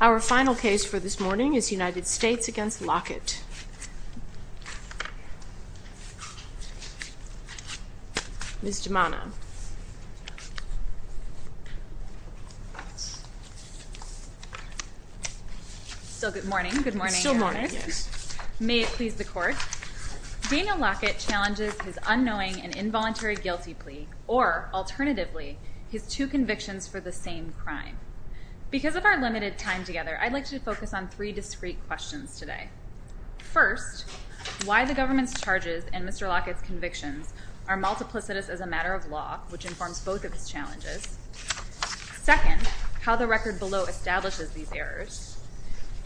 Our final case for this morning is United States v. Lockett. Ms. DeManna. Good morning. May it please the court. Daniel Lockett challenges his unknowing and involuntary guilty plea or, alternatively, his two convictions for the same crime. Because of our limited time together, I'd like to focus on three discrete questions today. First, why the government's law, which informs both of his challenges. Second, how the record below establishes these errors.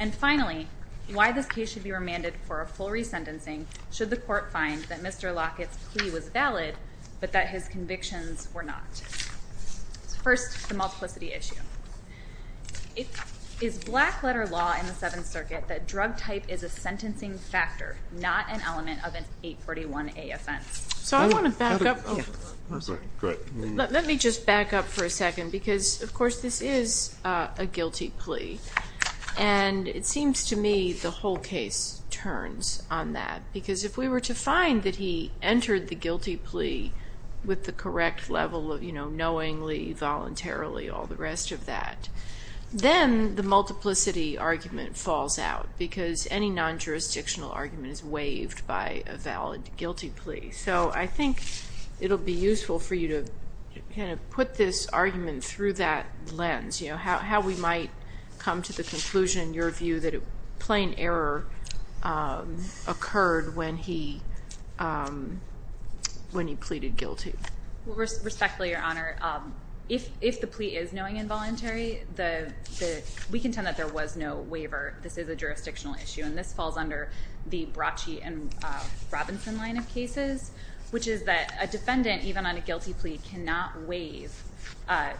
And finally, why this case should be remanded for a full resentencing should the court find that Mr. Lockett's plea was valid, but that his convictions were not. First, the multiplicity issue. Is black-letter law in the Seventh Circuit that drug type is a sentencing factor, not an element of an 841A offense? So I want to back up. Let me just back up for a second. Because, of course, this is a guilty plea. And it seems to me the whole case turns on that. Because if we were to find that he entered the guilty plea with the correct level of knowingly, voluntarily, all the rest of that, then the multiplicity argument falls out. Because any non-jurisdictional argument is waived by a valid guilty plea. So I think it'll be useful for you to put this argument through that lens. How we might come to the conclusion, your view, that a plain error occurred when he pleaded guilty. Respectfully, your Honor, if the plea is knowingly involuntary, we contend that there was no waiver. This is a jurisdictional issue. And this falls under the Bracci and Robinson line of cases, which is that a defendant, even on a guilty plea, cannot waive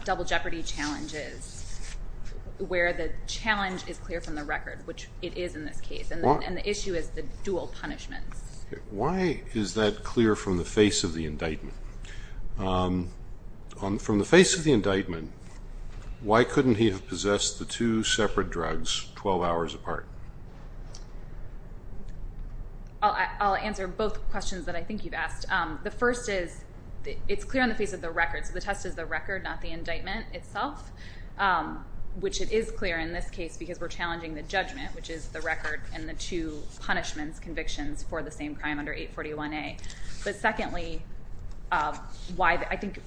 double jeopardy challenges where the challenge is clear from the record, which it is in this case. And the issue is the dual punishments. Why is that clear from the face of the indictment? From the face of the indictment, why couldn't he have possessed the two separate drugs 12 hours apart? I'll answer both questions that I think you've asked. The first is, it's clear on the face of the record. So the test is the record, not the indictment itself. Which it is clear in this case because we're challenging the judgment, which is the record and the two punishments convictions for the same crime under 841A. But secondly, I think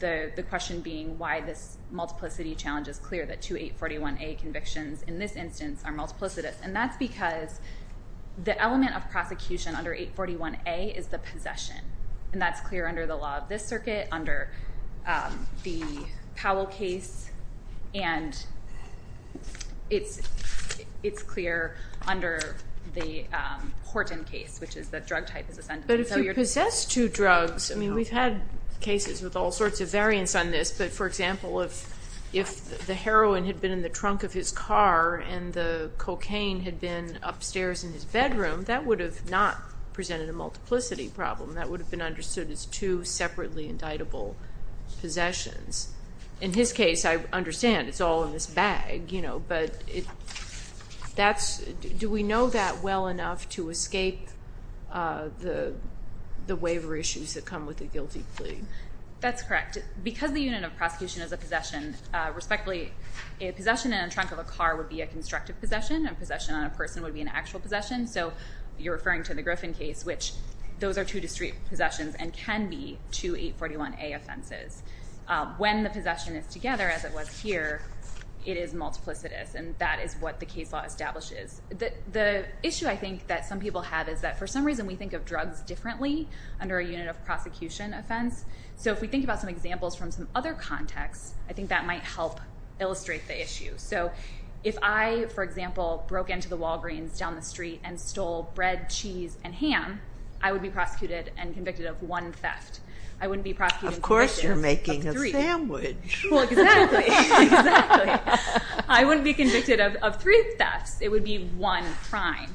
the question being why this multiplicity challenge is clear, that two 841A convictions in this instance are multiplicitous. And that's because the element of prosecution under 841A is the possession. And that's clear under the law of this circuit, under the Powell case, and it's clear under the Horton case, which is that drug type is a sentence. But if he possessed two drugs, I mean we've had cases with all sorts of variants on this, but for example, if the heroin had been in the trunk of his car and the cocaine had been upstairs in his bedroom, that would have not presented a multiplicity problem. That would have been understood as two separately indictable possessions. In his case, I understand it's all in this bag, but do we know that well enough to escape the waiver issues that come with a guilty plea? That's correct. Because the unit of prosecution is a possession, respectfully, a possession in a trunk of a car would be a constructive possession. A possession on a person would be an actual possession. So you're referring to the Griffin case, which those are two discrete multiplicities, and that is what the case law establishes. The issue I think that some people have is that for some reason we think of drugs differently under a unit of prosecution offense. So if we think about some examples from some other contexts, I think that might help illustrate the issue. So if I, for example, broke into the Walgreens down the street and stole bread, cheese, and ham, I would be prosecuted and convicted of one theft. I wouldn't be prosecuted and convicted of three. A sandwich. Well, exactly. Exactly. I wouldn't be convicted of three thefts. It would be one crime.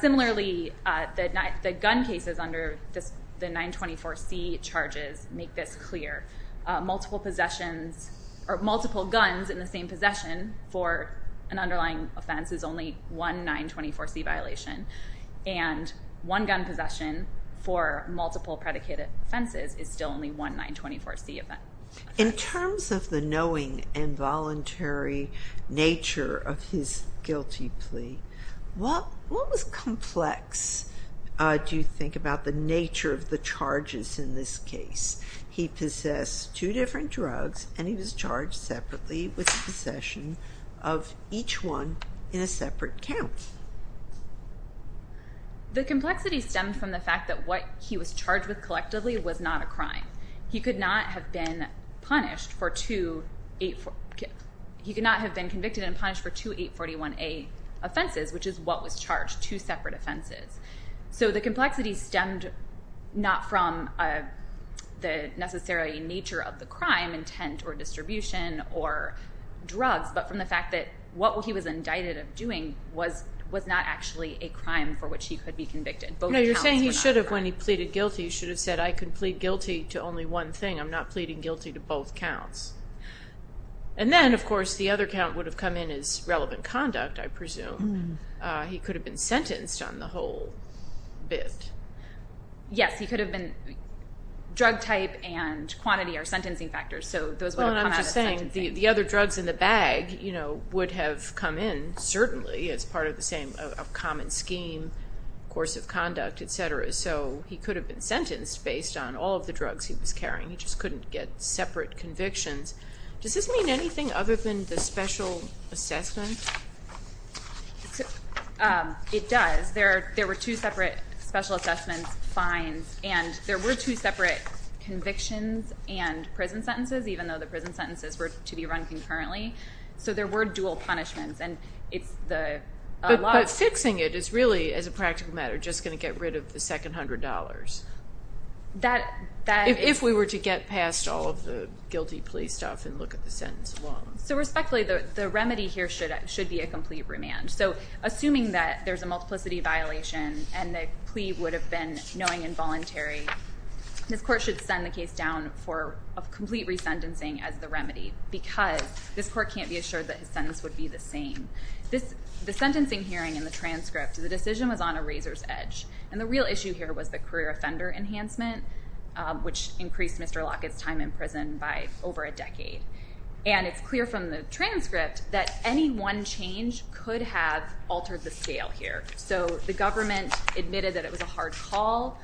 Similarly, the gun cases under the 924C charges make this clear. Multiple possessions or multiple guns in the same possession for an underlying offense is only one 924C violation. And one gun possession for multiple predicated offenses is still only one 924C offense. In terms of the knowing and voluntary nature of his guilty plea, what was complex, do you think, about the nature of the charges in this case? He possessed two different drugs and he was charged separately with possession of each one in a separate count. The complexity stemmed from the fact that what he was charged with collectively was not a crime. He could not have been convicted and punished for two 841A offenses, which is what was charged, two separate offenses. So the complexity stemmed not from the necessary nature of the crime, intent or distribution or drugs, but from the fact that what he was charged with was not actually a crime for which he could be convicted. No, you're saying he should have, when he pleaded guilty, he should have said, I can plead guilty to only one thing. I'm not pleading guilty to both counts. And then, of course, the other count would have come in as relevant conduct, I presume. He could have been sentenced on the whole bit. Yes, he could have been. Drug type and quantity are sentencing factors, so those would have come out as sentencing. Well, and I'm just saying the other drugs in the bag, you know, would have come in certainly as part of the same common scheme, course of conduct, etc. So he could have been sentenced based on all of the drugs he was carrying. He just couldn't get separate convictions. Does this mean anything other than the special assessment? It does. There were two separate special assessments, fines, and there were two separate convictions and prison sentences, even though the prison sentences were to be run concurrently. So there were dual punishments, and it's the law. But fixing it is really, as a practical matter, just going to get rid of the second $100. If we were to get past all of the guilty plea stuff and look at the sentence alone. So respectfully, the remedy here should be a complete remand. So assuming that there's a multiplicity violation and the plea would have been knowing involuntary, this court should send the case down for a complete resentencing as the remedy, because this court can't be assured that his sentence would be the same. The sentencing hearing and the transcript, the decision was on a razor's edge. And the real issue here was the career offender enhancement, which increased Mr. Lockett's time in prison by over a decade. And it's clear from the transcript that any one change could have altered the scale here. So the government admitted that it was a hard call,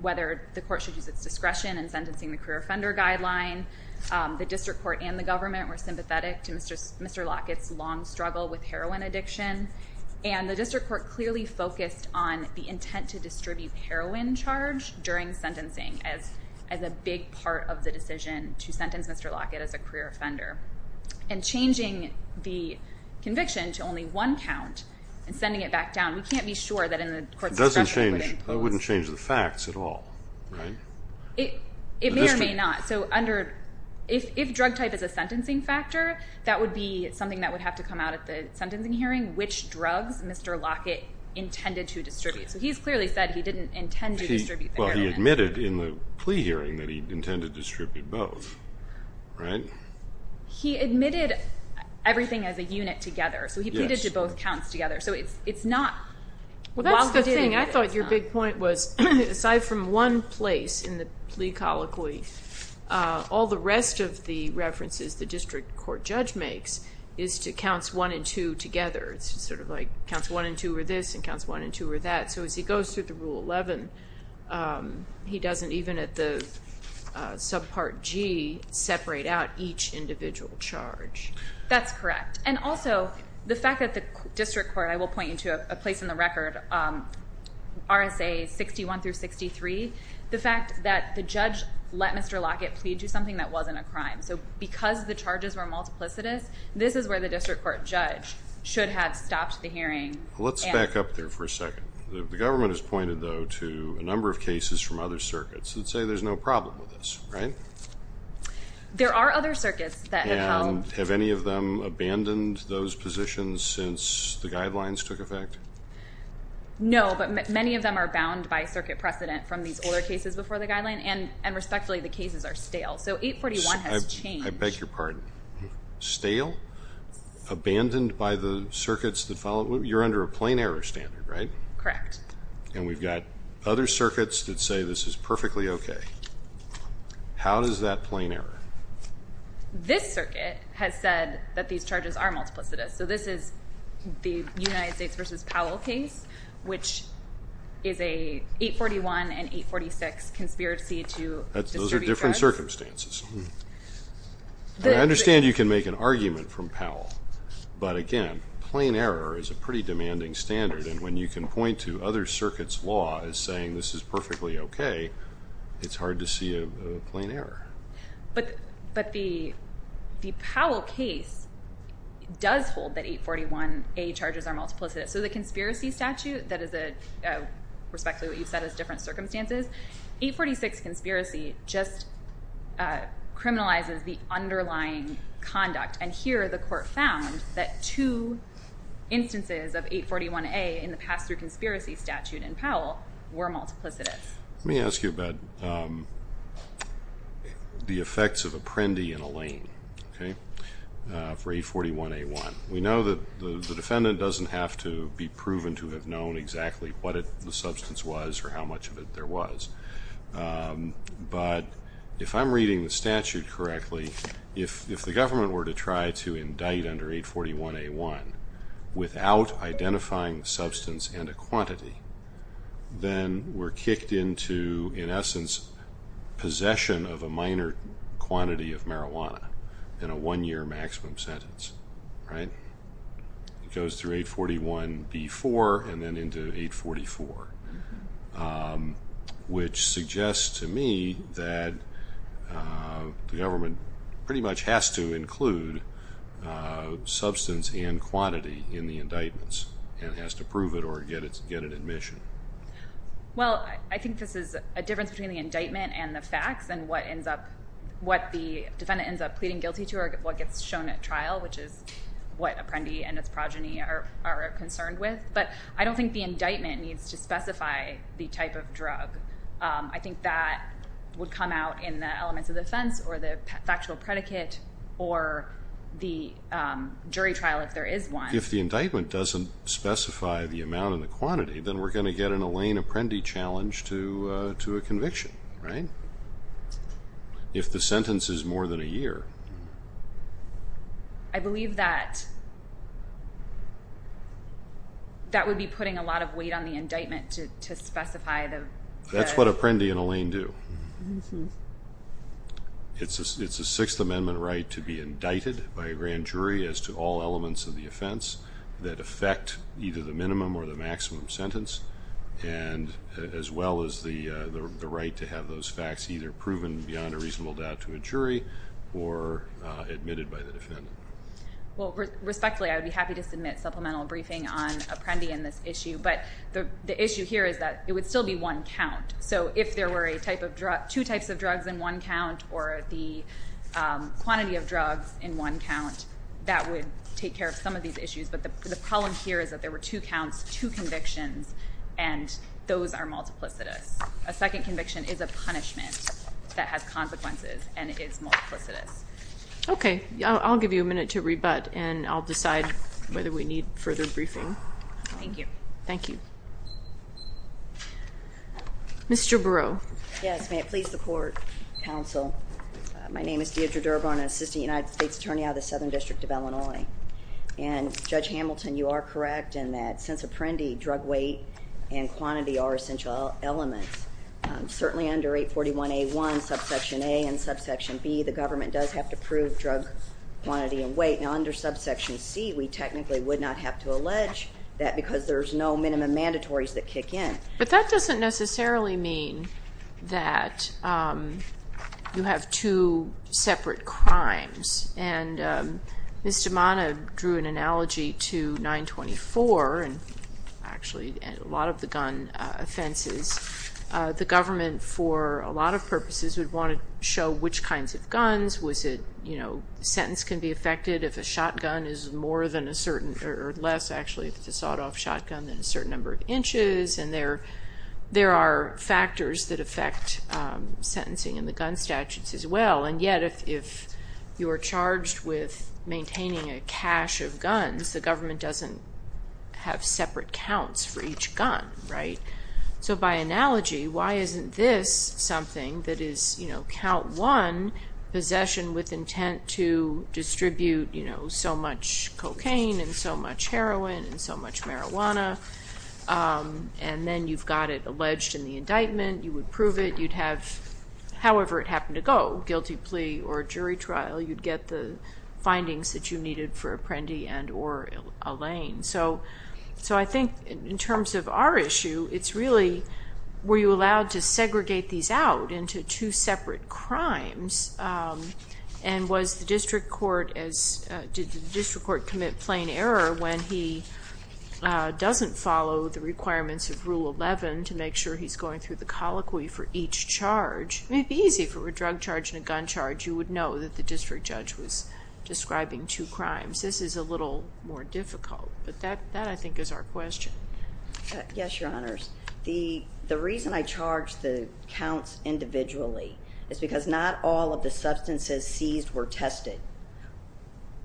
whether the court should use its discretion in sentencing the career offender guideline. The district court and the government were sympathetic to Mr. Lockett's long struggle with heroin addiction. And the district court clearly focused on the intent to distribute heroin charge during sentencing as a big part of the decision to sentence Mr. Lockett as a career offender. And changing the conviction to only one count and sending it back down, we can't be sure that in the court's discretion it would impose. I wouldn't change the facts at all. It may or may not. So under, if drug type is a sentencing factor, that would be something that would have to come out at the sentencing hearing, which drugs Mr. Lockett intended to distribute. So he's clearly said he didn't intend to distribute the heroin. Well, he admitted in the plea hearing that he intended to distribute both, right? He admitted everything as a unit together. So he pleaded to both counts together. So it's not. Well, that's the thing. I thought your big point was, aside from one place in the plea colloquy, all the rest of the references the district court judge makes is to counts one and two together. It's sort of like counts one and two are this and counts one and two are that. So as he goes through the Rule 11, he doesn't even at the subpart G separate out each individual charge. That's correct. And also the fact that the district court, I will point you to a place in the record, RSA 61 through 63, the fact that the judge let Mr. Lockett plead to something that wasn't a crime. So because the charges were multiplicitous, this is where the district court judge should have stopped the hearing. Let's back up there for a second. The government has pointed though to a number of cases from other circuits that say there's no problem with this, right? There are other circuits that have held. Have any of them abandoned those positions since the guidelines took effect? No, but many of them are bound by circuit precedent from these older cases before the guideline and respectfully, the cases are stale. So 841 has changed. I beg your pardon. Stale? Abandoned by the circuits that follow? You're under a plain error standard, right? Correct. And we've got other circuits that say this is perfectly okay. How does that plain error? This circuit has said that these charges are multiplicitous. So this is the United States versus Powell case, which is a 841 and 846 conspiracy to distribute drugs. Those are different circumstances. I understand you can make an argument from Powell, but again, plain error is a pretty demanding standard and when you can point to other circuits law as saying this is perfectly okay, it's hard to see a plain error. But the Powell case does hold that 841A charges are multiplicitous. So the conspiracy statute, that is a respectfully what you've said is different circumstances, 846 conspiracy just criminalizes the underlying conduct. And here the court found that two instances of 841A in the pass-through conspiracy statute in Powell were multiplicitous. Let me ask you about the effects of a Prendy and a Lane for 841A1. We know that the defendant doesn't have to be proven to have known exactly what the substance was or how much of it there was. But if I'm reading the statute correctly, if the government were to try to indict under 841A1 without identifying the substance and a quantity, then we're kicked into, in essence, possession of a minor quantity of marijuana in a one-year maximum sentence. It goes through which suggests to me that the government pretty much has to include substance and quantity in the indictments and has to prove it or get an admission. Well, I think this is a difference between the indictment and the facts and what ends up, what the defendant ends up pleading guilty to or what gets shown at trial, which is what a Prendy and its progeny are concerned with. But I don't think the indictment needs to I think that would come out in the elements of the offense or the factual predicate or the jury trial if there is one. If the indictment doesn't specify the amount and the quantity, then we're going to get an Elaine Apprendi challenge to a conviction, right? If the sentence is more than a year. I believe that that would be putting a lot of weight on the indictment to specify the That's what Apprendi and Elaine do. It's a Sixth Amendment right to be indicted by a grand jury as to all elements of the offense that affect either the minimum or the maximum sentence and as well as the right to have those facts either proven beyond a reasonable doubt to a jury or admitted by the defendant. Well, respectfully, I would be happy to submit supplemental briefing on Apprendi and this So if there were two types of drugs in one count or the quantity of drugs in one count, that would take care of some of these issues. But the problem here is that there were two counts, two convictions, and those are multiplicitous. A second conviction is a punishment that has consequences and is multiplicitous. Okay. I'll give you a minute to rebut and I'll decide whether we need further briefing. Thank you. Thank you. Mr. Burrow. Yes. May it please the Court, Counsel. My name is Deidre Durban, Assistant United States Attorney out of the Southern District of Illinois. And Judge Hamilton, you are correct in that since Apprendi, drug weight and quantity are essential elements. Certainly under 841A1, Subsection A and Subsection B, the government does have to prove drug quantity and weight. Now under Subsection C, we technically would not have to allege that because there's no minimum mandatories that kick in. But that doesn't necessarily mean that you have two separate crimes. And Ms. DiMana drew an analogy to 924 and actually a lot of the gun offenses. The government for a lot of purposes would want to show which kinds of guns, was it, you know, a sentence can be affected if a shotgun is more than a certain, or less actually if it's a sawed-off shotgun than a certain number of inches. And there are factors that affect sentencing in the gun statutes as well. And yet if you are charged with maintaining a cache of guns, the government doesn't have separate counts for each gun, right? So by analogy, why isn't this something that is, you know, count one, possession with intent to distribute, you know, so much cocaine and so much heroin and so much marijuana, and then you've got it alleged in the indictment, you would prove it, you'd have, however it happened to go, guilty plea or jury trial, you'd get the findings that you needed for Apprendi and or Allain. So I think in terms of our issue, it's really were you allowed to segregate these out into two separate crimes and was the district court as, did the district court commit plain error when he doesn't follow the requirements of Rule 11 to make sure he's going through the colloquy for each charge? I mean, it'd be easy for a drug charge and a gun charge. You would know that the district judge was describing two crimes. This is a little more difficult. But that, I think, is our question. Yes, Your Honors. The reason I charge the counts individually is because not all of the substances seized were tested.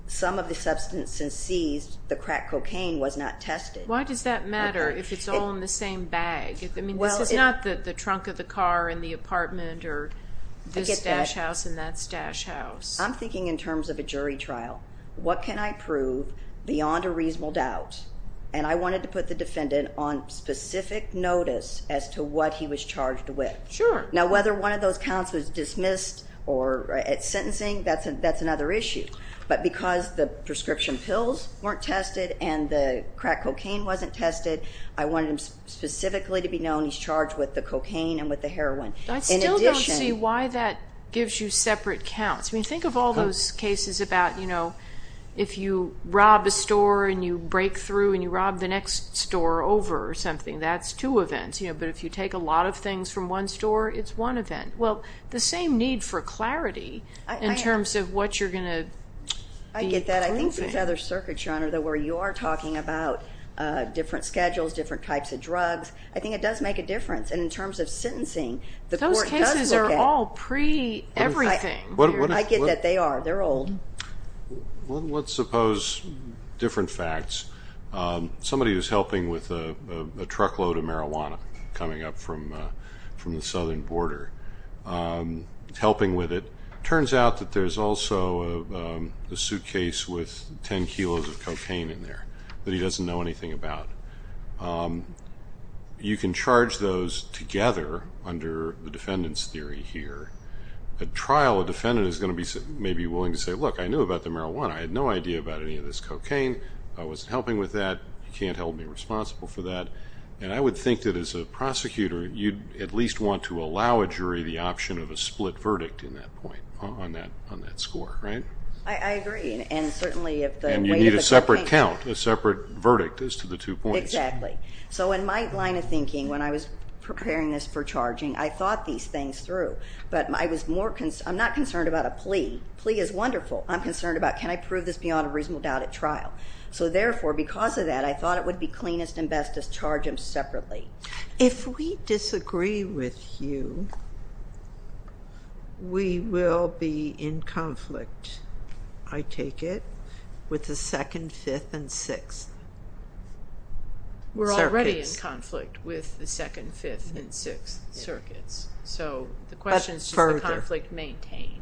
Some of the substances seized, the crack cocaine, was not tested. Why does that matter if it's all in the same bag? I mean, this is not the trunk of the car in the apartment or this stash house and that stash house. I'm thinking in terms of a jury trial. What can I prove beyond a reasonable doubt? And I wanted to put the defendant on specific notice as to what he was charged with. Sure. Now, whether one of those counts was dismissed or sentencing, that's another issue. But because the prescription pills weren't tested and the crack cocaine wasn't tested, I wanted him specifically to be known he's charged with the cocaine and with the heroin. I still don't see why that gives you separate counts. I mean, think of all those cases about, you know, if you rob a store and you break through and you rob the next store over something. That's two events. But if you take a lot of things from one store, it's one event. Well, the same need for clarity in terms of what you're going to be proving. I get that. I think there's other circuits, Your Honor, where you are talking about different schedules, different types of drugs. I think it does make a difference. And in terms of sentencing, the court does look at it. Those cases are all pre-everything. I get that. They are. They're old. Let's suppose different facts. Somebody was helping with a truckload of marijuana coming up from the southern border. Helping with it. Turns out that there's also a suitcase with 10 kilos of cocaine in there that he doesn't know anything about. You can charge those together under the defendant's theory here. At trial, a defendant is going to be willing to say, look, I knew about the marijuana. I had no idea about any of this cocaine. I wasn't helping with that. You can't hold me responsible for that. And I would think that as a prosecutor, you'd at least want to allow a jury the option of a split verdict in that point on that score, right? I agree. And certainly if the weight of the cocaine... And you need a separate count, a separate verdict as to the two points. Exactly. So in my line of thinking, when I was preparing this for charging, I thought these things through. But I was more... I'm not concerned about a plea. A plea is wonderful. I'm concerned about, can I prove this beyond a reasonable doubt at trial? So therefore, because of that, I thought it would be cleanest and best to charge them separately. If we disagree with you, we will be in conflict, I take it, with the Second, Fifth, and Sixth Circuits. We're already in conflict with the Second, Fifth, and Sixth Circuits. So the question is, does the conflict maintain?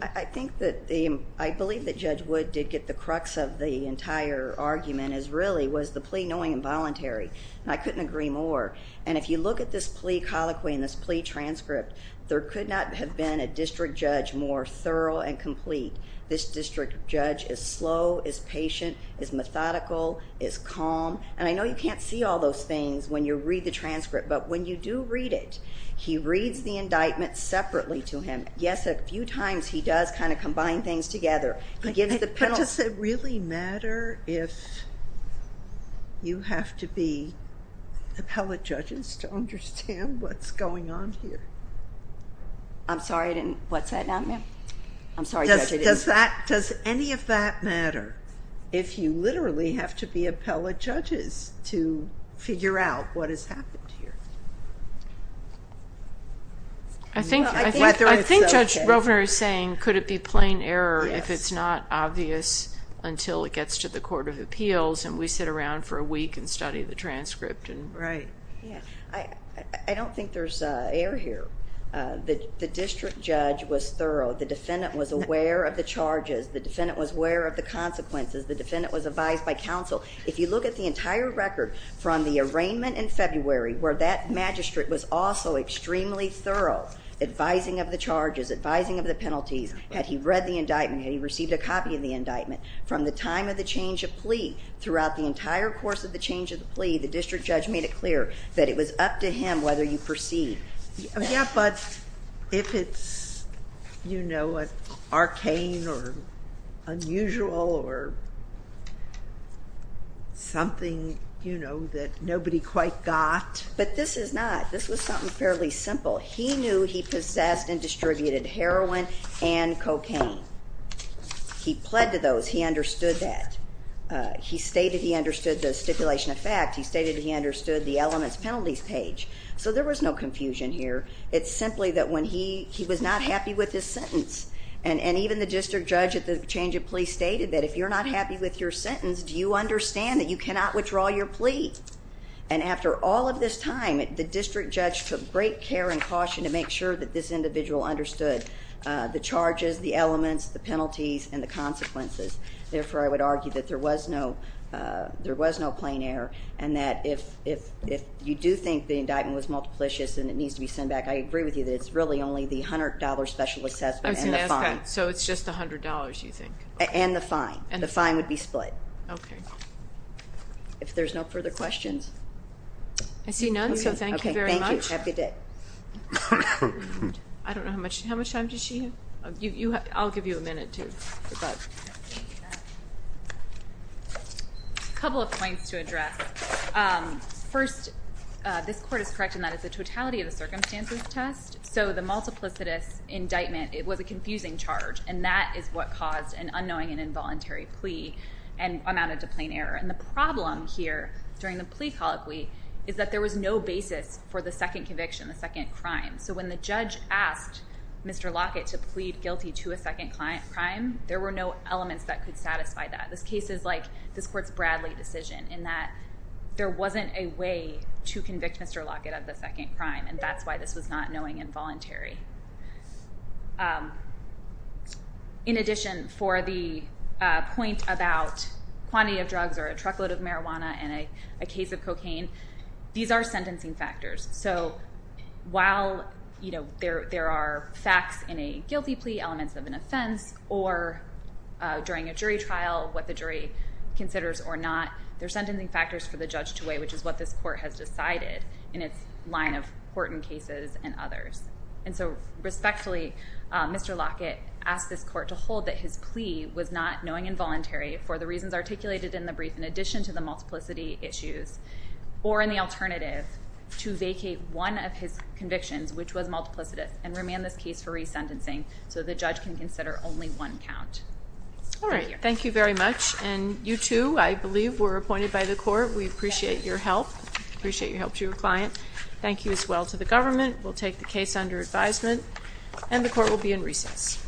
I think that the... I believe that Judge Wood did get the crux of the entire argument is really was the plea knowing involuntary. And I couldn't agree more. And if you look at this plea colloquy and this plea transcript, there could not have been a district judge more thorough and complete. This district judge is slow, is patient, is methodical, is calm. And I know you can't see all those things when you read the transcript, but when you do read it, he reads the indictment separately to him. Yes, a few times he does kind of combine things together. He gives the penalty... You have to be appellate judges to understand what's going on here. I'm sorry, I didn't... What's that now, ma'am? I'm sorry, Judge, I didn't... Does any of that matter if you literally have to be appellate judges to figure out what has happened here? I think Judge Rovner is saying, could it be plain error if it's not obvious until it gets to the Court of Appeals and we sit around for a week and study the transcript? Right. I don't think there's error here. The district judge was thorough. The defendant was aware of the charges. The defendant was aware of the consequences. The defendant was advised by counsel. If you look at the entire record from the arraignment in February where that magistrate was also extremely thorough, advising of the charges, advising of the penalties, had he read the indictment, had he received a copy of the indictment from the time of the change of plea throughout the entire course of the change of plea, the district judge made it clear that it was up to him whether you proceed. Yeah, but if it's, you know, arcane or unusual or something, you know, that nobody quite got... But this is not. This was something fairly simple. He knew he possessed and distributed heroin and cocaine. He pled to those. He understood that. He stated he understood the stipulation of fact. He stated he understood the elements penalties page. So there was no confusion here. It's simply that when he was not happy with his sentence, and even the district judge at the change of plea stated that if you're not happy with your sentence, do you understand that you cannot withdraw your plea? And after all of this time, the individual understood the charges, the elements, the penalties, and the consequences. Therefore, I would argue that there was no plain error, and that if you do think the indictment was multiplicious and it needs to be sent back, I agree with you that it's really only the $100 special assessment and the fine. So it's just $100, you think? And the fine. The fine would be split. Okay. If there's no further questions... I see none, so thank you very much. Thank you. Have a good day. I don't know how much time does she have? I'll give you a minute to... A couple of points to address. First, this court is correct in that it's a totality of the circumstances test, so the multiplicitous indictment, it was a confusing charge, and that is what caused an unknowing and involuntary plea and amounted to plain error. And the second conviction, the second crime. So when the judge asked Mr. Lockett to plead guilty to a second crime, there were no elements that could satisfy that. This case is like this court's Bradley decision in that there wasn't a way to convict Mr. Lockett of the second crime, and that's why this was not knowing and voluntary. In addition, for the point about quantity of drugs or a truckload of marijuana and a So while there are facts in a guilty plea, elements of an offense, or during a jury trial, what the jury considers or not, there are sentencing factors for the judge to weigh, which is what this court has decided in its line of court and cases and others. And so respectfully, Mr. Lockett asked this court to hold that his plea was not knowing and voluntary for the reasons articulated in the brief in addition to the multiplicity issues, or in the alternative, to vacate one of his convictions, which was multiplicity, and remand this case for resentencing so the judge can consider only one count. All right. Thank you very much. And you too, I believe, were appointed by the court. We appreciate your help. We appreciate your help to your client. Thank you as well to the government. We'll take the case under advisement, and the court will be in recess.